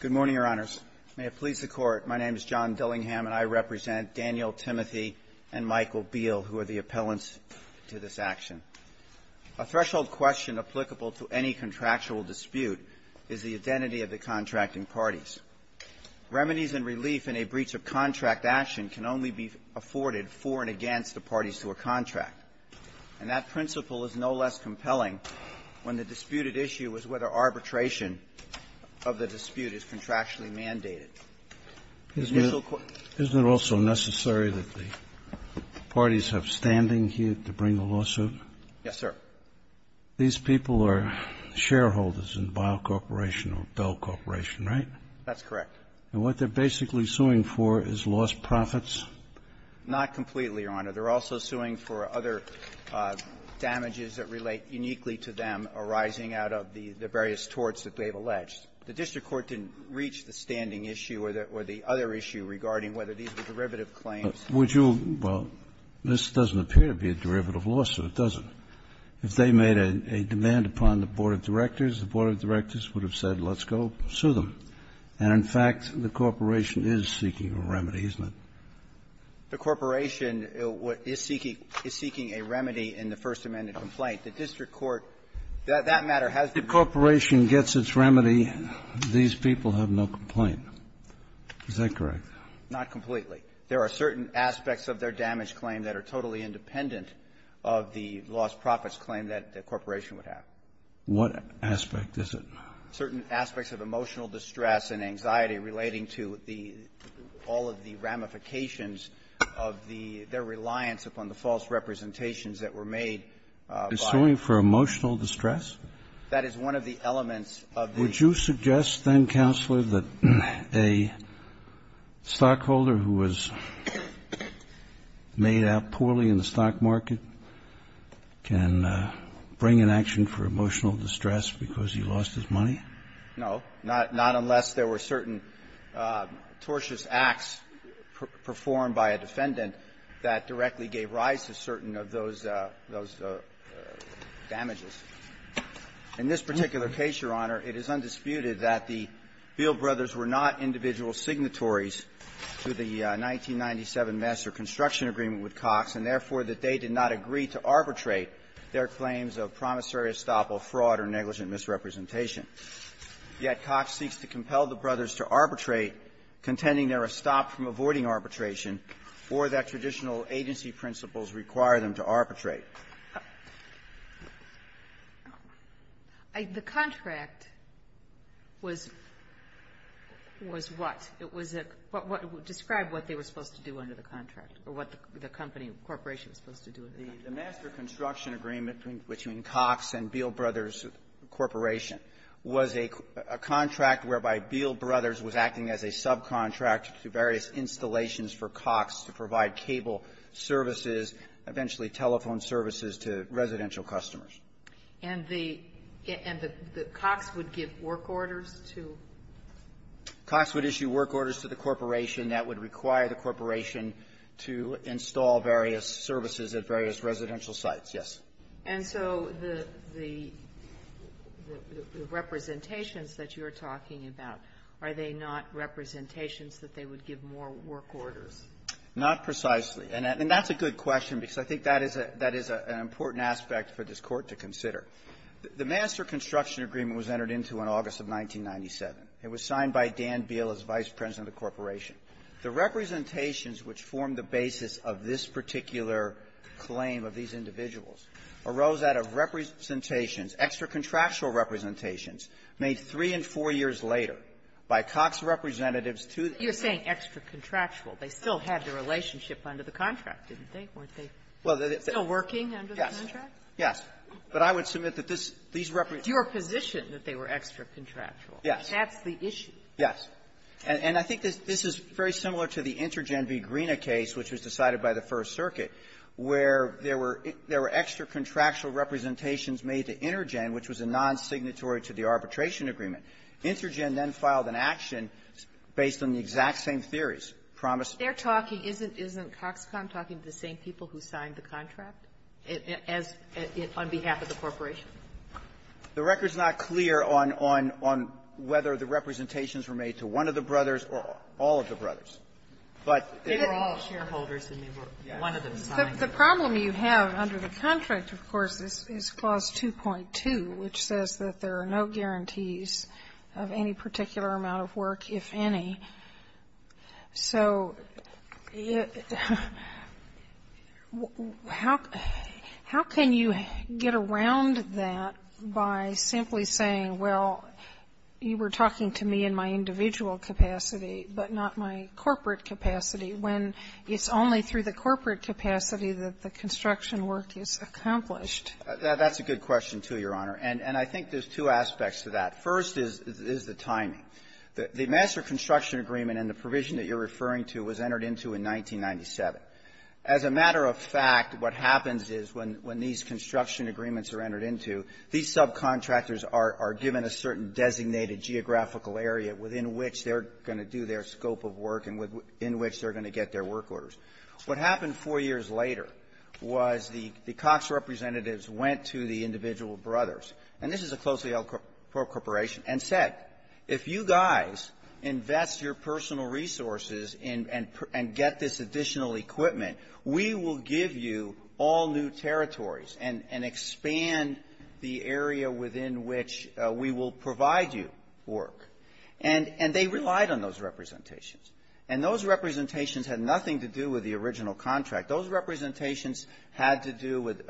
Good morning, Your Honors. May it please the Court, my name is John Dillingham, and I represent Daniel Timothy and Michael Beyle, who are the appellants to this action. A threshold question applicable to any contractual dispute is the identity of the contracting parties. Remedies and relief in a breach of contract action can only be afforded for and against the parties to a contract. And that principle is no less compelling when the disputed issue is whether arbitration of the dispute is contractually mandated. The initial question — Isn't it also necessary that the parties have standing here to bring a lawsuit? Yes, sir. These people are shareholders in Beyle Corporation or Bell Corporation, right? That's correct. And what they're basically suing for is lost profits? Not completely, Your Honor. They're also suing for other damages that relate uniquely to them arising out of the various torts that they've alleged. The district court didn't reach the standing issue or the other issue regarding whether these were derivative claims. Would you — well, this doesn't appear to be a derivative lawsuit, does it? If they made a demand upon the board of directors, the board of directors would have said, let's go sue them. And, in fact, the corporation is seeking a remedy, isn't it? The corporation is seeking a remedy in the First Amendment complaint. The district court — that matter has been — If the corporation gets its remedy, these people have no complaint. Is that correct? Not completely. There are certain aspects of their damage claim that are totally independent of the lost profits claim that the corporation would have. What aspect is it? Certain aspects of emotional distress and anxiety relating to the — all of the ramifications of the — their reliance upon the false representations that were made by the — They're suing for emotional distress? That is one of the elements of the — Would you suggest, then, Counselor, that a stockholder who was made out poorly in the stock market can bring an action for emotional distress because he lost his money? No. Not unless there were certain tortious acts performed by a defendant that directly gave rise to certain of those — those damages. In this particular case, Your Honor, it is undisputed that the Beal brothers were not individual signatories to the 1997 master construction agreement with Cox, and therefore, that they did not agree to arbitrate their claims of promissory estoppel fraud or negligent misrepresentation. Yet Cox seeks to compel the brothers to arbitrate, contending there are stops from avoiding arbitration or that traditional agency principles require them to arbitrate. The contract was — was what? It was a — describe what they were supposed to do under the contract or what the company, corporation was supposed to do. The master construction agreement between Cox and Beal Brothers Corporation was a contract whereby Beal Brothers was acting as a subcontract to various installations for Cox to provide cable services, eventually telephone services, to residential customers. And the — and the — the Cox would give work orders to? Cox would issue work orders to the corporation that would require the corporation to install various services at various residential sites, yes. And so the — the representations that you're talking about, are they not representations that they would give more work orders? Not precisely. And that's a good question because I think that is a — that is an important aspect for this Court to consider. The master construction agreement was entered into in August of 1997. It was signed by Dan Beal as vice president of the corporation. The representations which form the basis of this particular claim of these individuals arose out of representations, extra-contractual representations, made three and four years later by Cox representatives to the — You're saying extra-contractual. They still had the relationship under the contract, didn't they? Weren't they still working under the contract? Yes. Yes. But I would submit that this — these representatives — It's your position that they were extra-contractual. Yes. That's the issue. Yes. And I think this is very similar to the Intergen v. Greena case, which was decided by the First Circuit, where there were — there were extra-contractual representations made to Intergen, which was a non-signatory to the arbitration agreement. Intergen then filed an action based on the exact same theories, promised — They're talking — isn't — isn't Coxcomb talking to the same people who signed the contract as — on behalf of the corporation? The record's not clear on — on — on whether the representations were made to one of the brothers or all of the brothers. But they were all shareholders, and they were one of them signing it. The problem you have under the contract, of course, is Clause 2.2, which says that there are no guarantees of any particular amount of work, if any. So how can you get around that by simply saying, well, you were talking to me in my individual capacity, but not my corporate capacity, when it's only through the corporate capacity that the construction work is accomplished? That's a good question, too, Your Honor. And I think there's two aspects to that. First is — is the timing. The — the master construction agreement and the provision that you're referring to was entered into in 1997. As a matter of fact, what happens is, when — when these construction agreements are entered into, these subcontractors are — are given a certain designated geographical area within which they're going to do their scope of work and in which they're going to get their work orders. What happened four years later was the — the Cox representatives went to the individual brothers — and this is a closely-held corporation — and said, if you guys invest your personal resources and — and get this additional equipment, we will give you all new territories and — and expand the area within which we will provide you work. And — and they relied on those representations. And those representations had nothing to do with the original contract. Those representations had to do with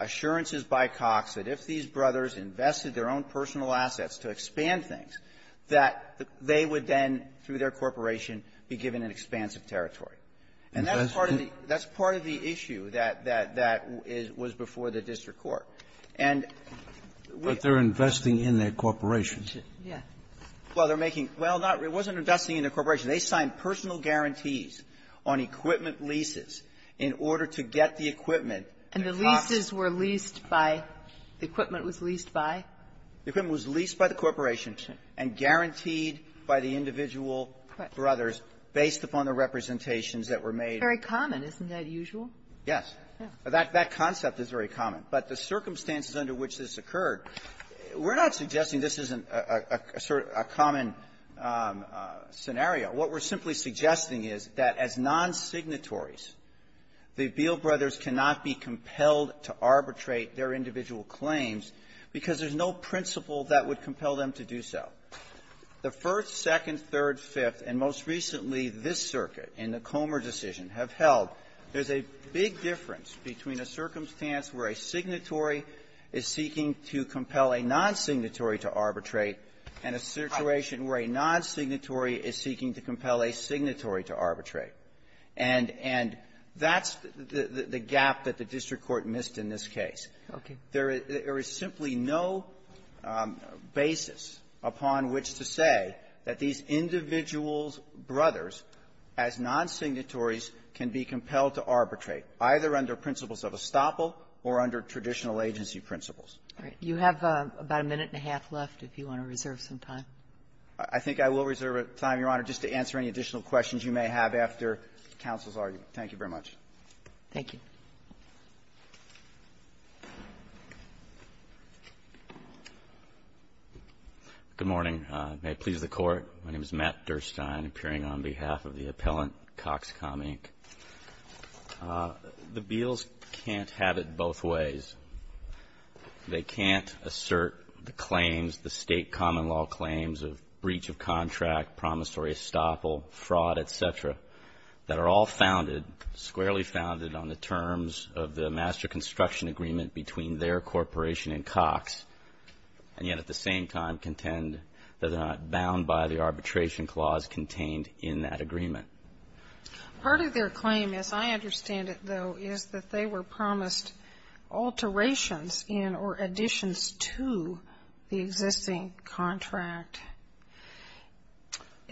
assurances by Cox that if these brothers invested their own personal assets to expand things, that they would then, through their corporation, be given an expansive territory. And that's part of the — that's part of the issue that — that — that was before the district court. And we — Kennedy, but they're investing in their corporation. Yeah. Well, they're making — well, not — it wasn't investing in their corporation. They signed personal guarantees on equipment leases in order to get the equipment that Cox — And the leases were leased by — the equipment was leased by? The equipment was leased by the corporation and guaranteed by the individual brothers based upon the representations that were made. Very common. Isn't that usual? Yes. Yeah. That — that concept is very common. But the circumstances under which this occurred, we're not suggesting this isn't a — a common scenario. What we're simply suggesting is that as non-signatories, the Beal brothers cannot be compelled to arbitrate their individual claims because there's no principle that would compel them to do so. The First, Second, Third, Fifth, and most recently this circuit in the Comer decision have held there's a big difference between a circumstance where a signatory is seeking to compel a non-signatory to arbitrate and a situation where a non-signatory is seeking to compel a signatory to arbitrate. And — and that's the — the gap that the district court missed in this case. Okay. There is — there is simply no basis upon which to say that these individual brothers, as non-signatories, can be compelled to arbitrate, either under principles of estoppel or under traditional agency principles. All right. You have about a minute and a half left if you want to reserve some time. I think I will reserve time, Your Honor, just to answer any additional questions you may have after counsel's argument. Thank you very much. Thank you. Good morning. May it please the Court. My name is Matt Durstein, appearing on behalf of the appellant, Coxcom Inc. The Beals can't have it both ways. They can't assert the claims, the state common law claims of breach of contract, promissory estoppel, fraud, et cetera, that are all founded — squarely founded on the terms of the master construction agreement between their corporation and Cox, and yet at the same time contend that they're not bound by the arbitration clause contained in that agreement. Part of their claim, as I understand it, though, is that they were promised alterations in or additions to the existing contract.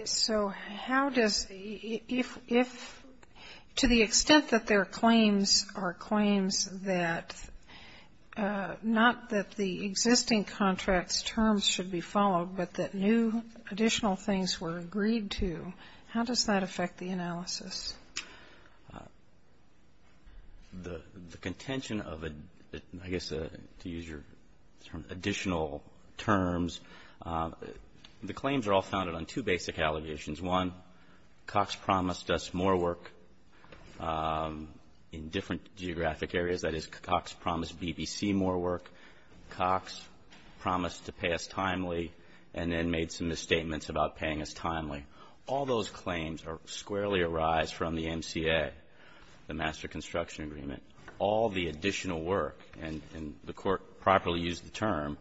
So how does — if — to the extent that their claims are claims that — not that the existing contract's terms should be followed, but that new additional things were agreed to, how does that affect the analysis? The contention of a — I guess to use your additional terms, the claims are all founded on two basic allegations. One, Cox promised us more work in different geographic areas. That is, Cox promised BBC more work. Cox promised to pay us timely and then made some misstatements about paying us timely. All those claims are — squarely arise from the NCA, the master construction agreement. All the additional work, and the Court properly used the term,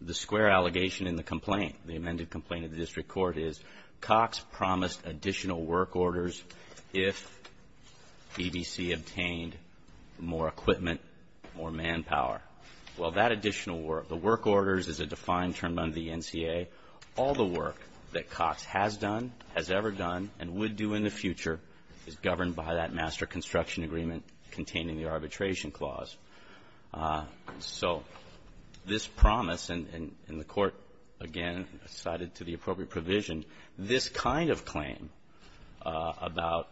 the square allegation in the complaint, the amended complaint of the district court, is Cox promised additional work orders if BBC obtained more equipment, more manpower. Well, that additional work — the work orders is a defined term under the NCA. All the work that Cox has done, has ever done, and would do in the future is governed by that master construction agreement containing the arbitration clause. So this promise, and the Court, again, cited to the appropriate provision, this kind of claim about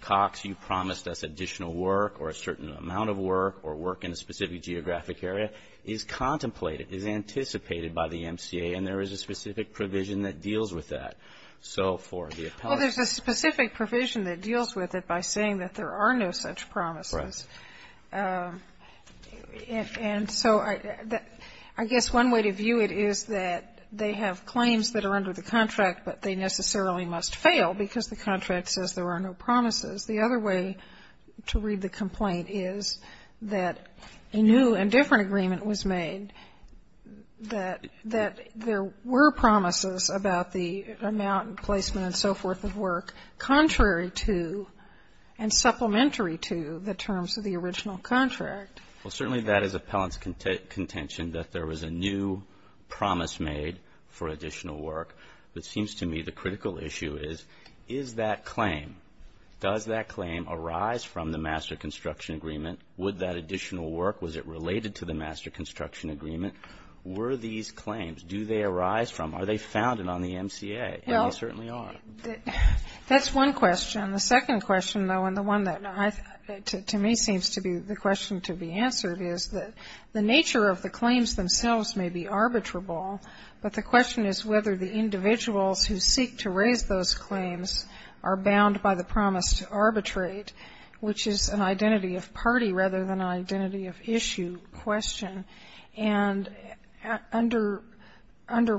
Cox, you promised us additional work, or a certain amount of work, or work in a specific geographic area, is contemplated, is anticipated by the NCA. And there is a specific provision that deals with that. So for the appellate — Well, there's a specific provision that deals with it by saying that there are no such promises. Right. And so I guess one way to view it is that they have claims that are under the contract, but they necessarily must fail because the contract says there are no promises. The other way to read the complaint is that a new and different agreement was made that there were promises about the amount and placement and so forth of work, contrary to and supplementary to the terms of the original contract. Well, certainly that is appellant's contention that there was a new promise made for additional work. It seems to me the critical issue is, is that claim, does that claim arise from the master construction agreement? Would that additional work? Was it related to the master construction agreement? Were these claims? Do they arise from? Are they founded on the MCA? And they certainly are. That's one question. The second question, though, and the one that to me seems to be the question to be answered, is that the nature of the claims themselves may be arbitrable, but the question is whether the individuals who seek to raise those claims are bound by the promise to arbitrate, which is an identity of party rather than identity of issue question, and under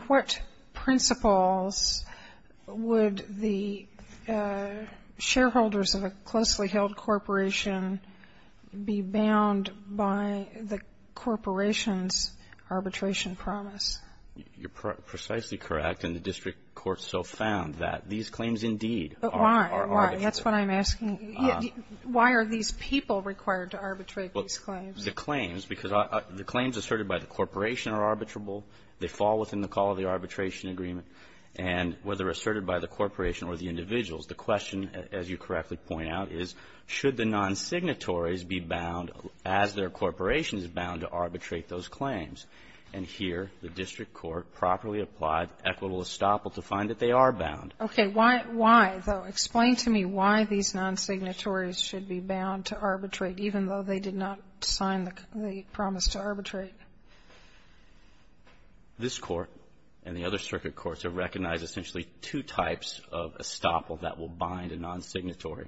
what principles would the shareholders of a closely held corporation be bound by the corporation's arbitration promise? You're precisely correct, and the district court so found that these claims, indeed, are arbitrable. But why? That's what I'm asking. Why are these people required to arbitrate these claims? The claims, because the claims asserted by the corporation are arbitrable. They fall within the call of the arbitration agreement, and whether asserted by the corporation or the individuals, the question, as you correctly point out, is should the non-signatories be bound as their corporation is bound to arbitrate those claims? And here, the district court properly applied equital estoppel to find that they are bound. Okay. Why, though, explain to me why these non-signatories should be bound to arbitrate, even though they did not sign the promise to arbitrate. This Court and the other circuit courts have recognized essentially two types of estoppel that will bind a non-signatory.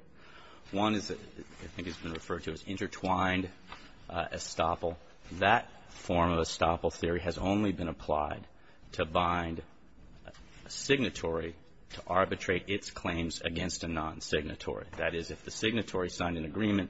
One is, I think it's been referred to as intertwined estoppel. That form of estoppel theory has only been applied to bind a signatory to arbitrate its claims against a non-signatory. That is, if the signatory signed an agreement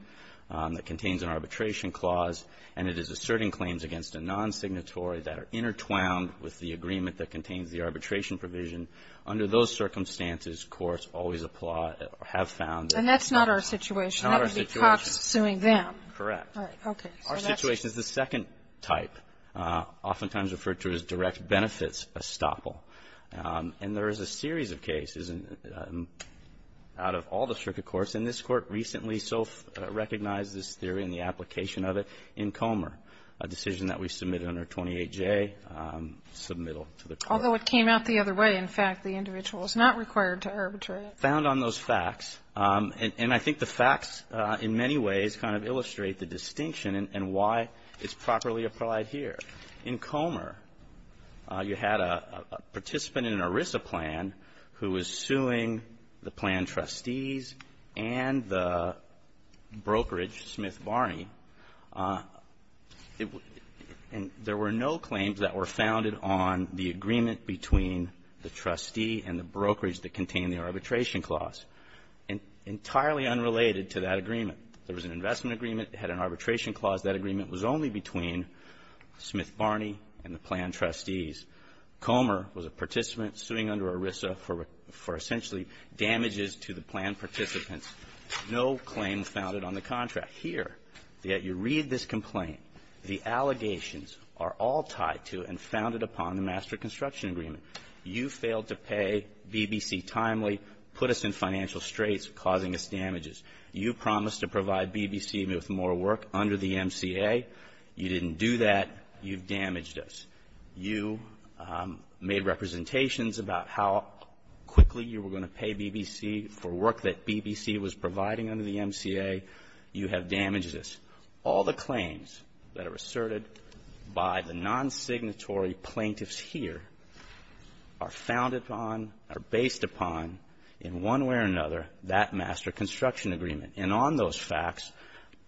that contains an arbitration clause, and it is asserting claims against a non-signatory that are intertwined with the agreement that contains the arbitration provision, under those circumstances, courts always apply or have found that it's a non-signatory. And that's not our situation. Not our situation. That would be cops suing them. Correct. All right. Okay. Our situation is the second type, oftentimes referred to as direct benefits estoppel. And there is a series of cases out of all the circuit courts, and this Court recently self-recognized this theory and the application of it in Comer, a decision that we submitted under 28J, submittal to the Court. Although it came out the other way. In fact, the individual is not required to arbitrate. Found on those facts. And I think the facts, in many ways, kind of illustrate the distinction and why it's properly applied here. In Comer, you had a participant in an ERISA plan who was suing the plan trustees and the brokerage, Smith Barney, and there were no claims that were founded on the agreement between the trustee and the brokerage that contained the arbitration clause. Entirely unrelated to that agreement, there was an investment agreement. It had an arbitration clause. That agreement was only between Smith Barney and the plan trustees. Comer was a participant suing under ERISA for essentially damages to the plan participants. No claims founded on the contract. Here, that you read this complaint, the allegations are all tied to and founded upon the master construction agreement. You failed to pay BBC timely, put us in financial straits, causing us damages. You promised to provide BBC with more work under the MCA. You didn't do that. You've damaged us. You made representations about how quickly you were going to pay BBC for work that BBC was providing under the MCA. You have damaged us. All the claims that are asserted by the non-signatory plaintiffs here are founded upon, are based upon, in one way or another, that master construction agreement. And on those facts,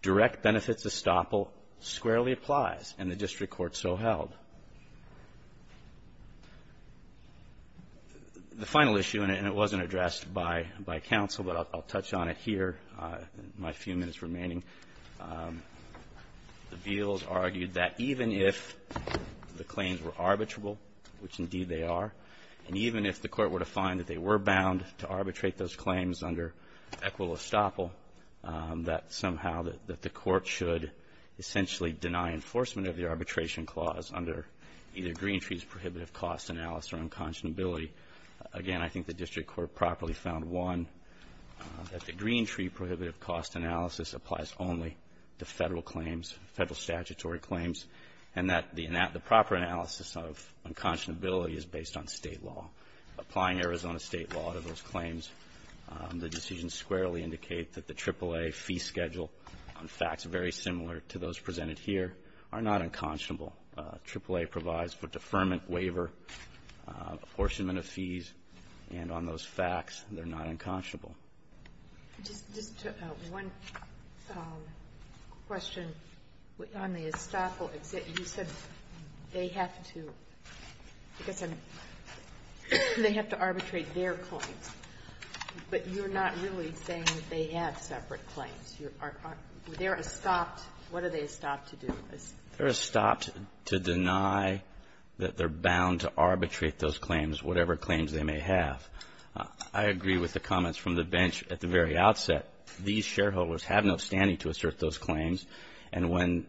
direct benefits estoppel squarely applies, and the district court so held. The final issue, and it wasn't addressed by counsel, but I'll touch on it here in my few minutes remaining, the Beals argued that even if the claims were arbitrable, which indeed they are, and even if the court were to find that they were bound to arbitrate those claims under equitable estoppel, that somehow that the court should essentially deny enforcement of the arbitration clause under either Greentree's prohibitive cost analysis or unconscionability. Again, I think the district court properly found, one, that the Greentree prohibitive cost analysis applies only to Federal claims, Federal statutory claims, and that the proper analysis of unconscionability is based on State law. Applying Arizona State law to those claims, the decisions squarely indicate that the AAA fee schedule on facts very similar to those presented here are not unconscionable. AAA provides for deferment, waiver, apportionment of fees, and on those facts, they're not unconscionable. Just one question on the estoppel. You said they have to arbitrate their claims, but you're not really saying they have separate claims. They're estopped. What are they estopped to do? They're estopped to deny that they're bound to arbitrate those claims, whatever claims they may have. I agree with the comments from the bench at the very outset. These shareholders have no standing to assert those claims, and when,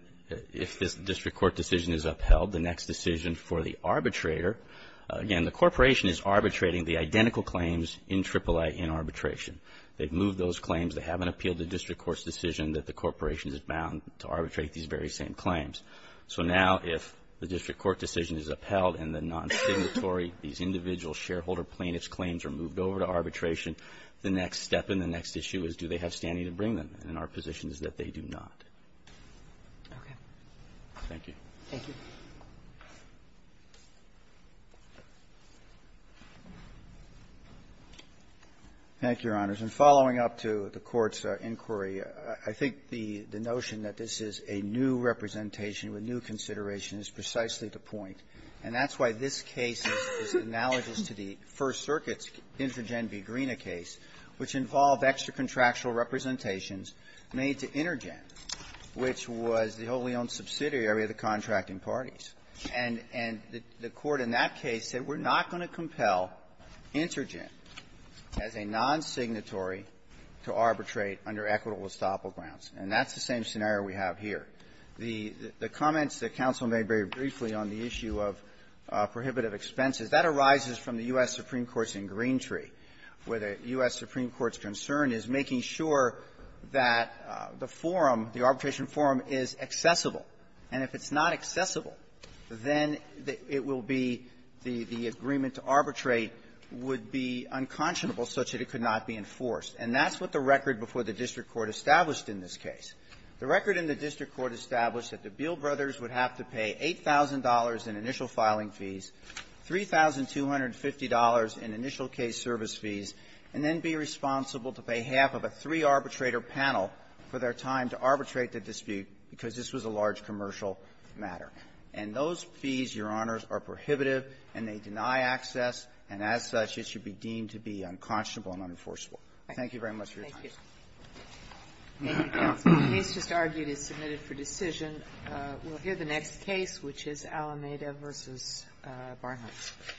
if this district court decision is upheld, the next decision for the arbitrator, again, the corporation is arbitrating the identical claims in AAA in arbitration. They've moved those claims. They haven't appealed the district court's decision that the corporation is bound to arbitrate these very same claims. So now, if the district court decision is upheld and the non-stigmatory, these individual shareholder plaintiff's claims are moved over to arbitration, the next step and the next issue is, do they have standing to bring them? And our position is that they do not. Okay. Thank you. Thank you. Thank you, Your Honors. And following up to the Court's inquiry, I think the notion that this is a new representation with new consideration is precisely the point. And that's why this case is analogous to the First Circuit's Intergen v. Greena case, which involved extra-contractual representations made to Intergen, which was the wholly-owned subsidiary of the contracting parties. And the Court in that case said, we're not going to compel Intergen as a non-stigmatory to arbitrate under equitable estoppel grounds. And that's the same scenario we have here. The comments that counsel made very briefly on the issue of prohibitive expenses, that arises from the U.S. Supreme Court's in Greentree, where the U.S. Supreme Court's concern is making sure that the forum, the arbitration forum, is accessible. And if it's not accessible, then it will be the agreement to arbitrate would be unconscionable such that it could not be enforced. And that's what the record before the district court established in this case. The record in the district court established that the Beale brothers would have to pay $8,000 in initial filing fees, $3,250 in initial case service fees, and then be responsible to pay half of a three-arbitrator panel for their time to arbitrate the dispute because this was a large commercial matter. And those fees, Your Honors, are prohibitive, and they deny access, and as such, it should be deemed to be unconscionable and unenforceable. Thank you very much for your time. Thank you. Thank you, counsel. The case just argued is submitted for decision. We'll hear the next case, which is Alameda v. Barnhart.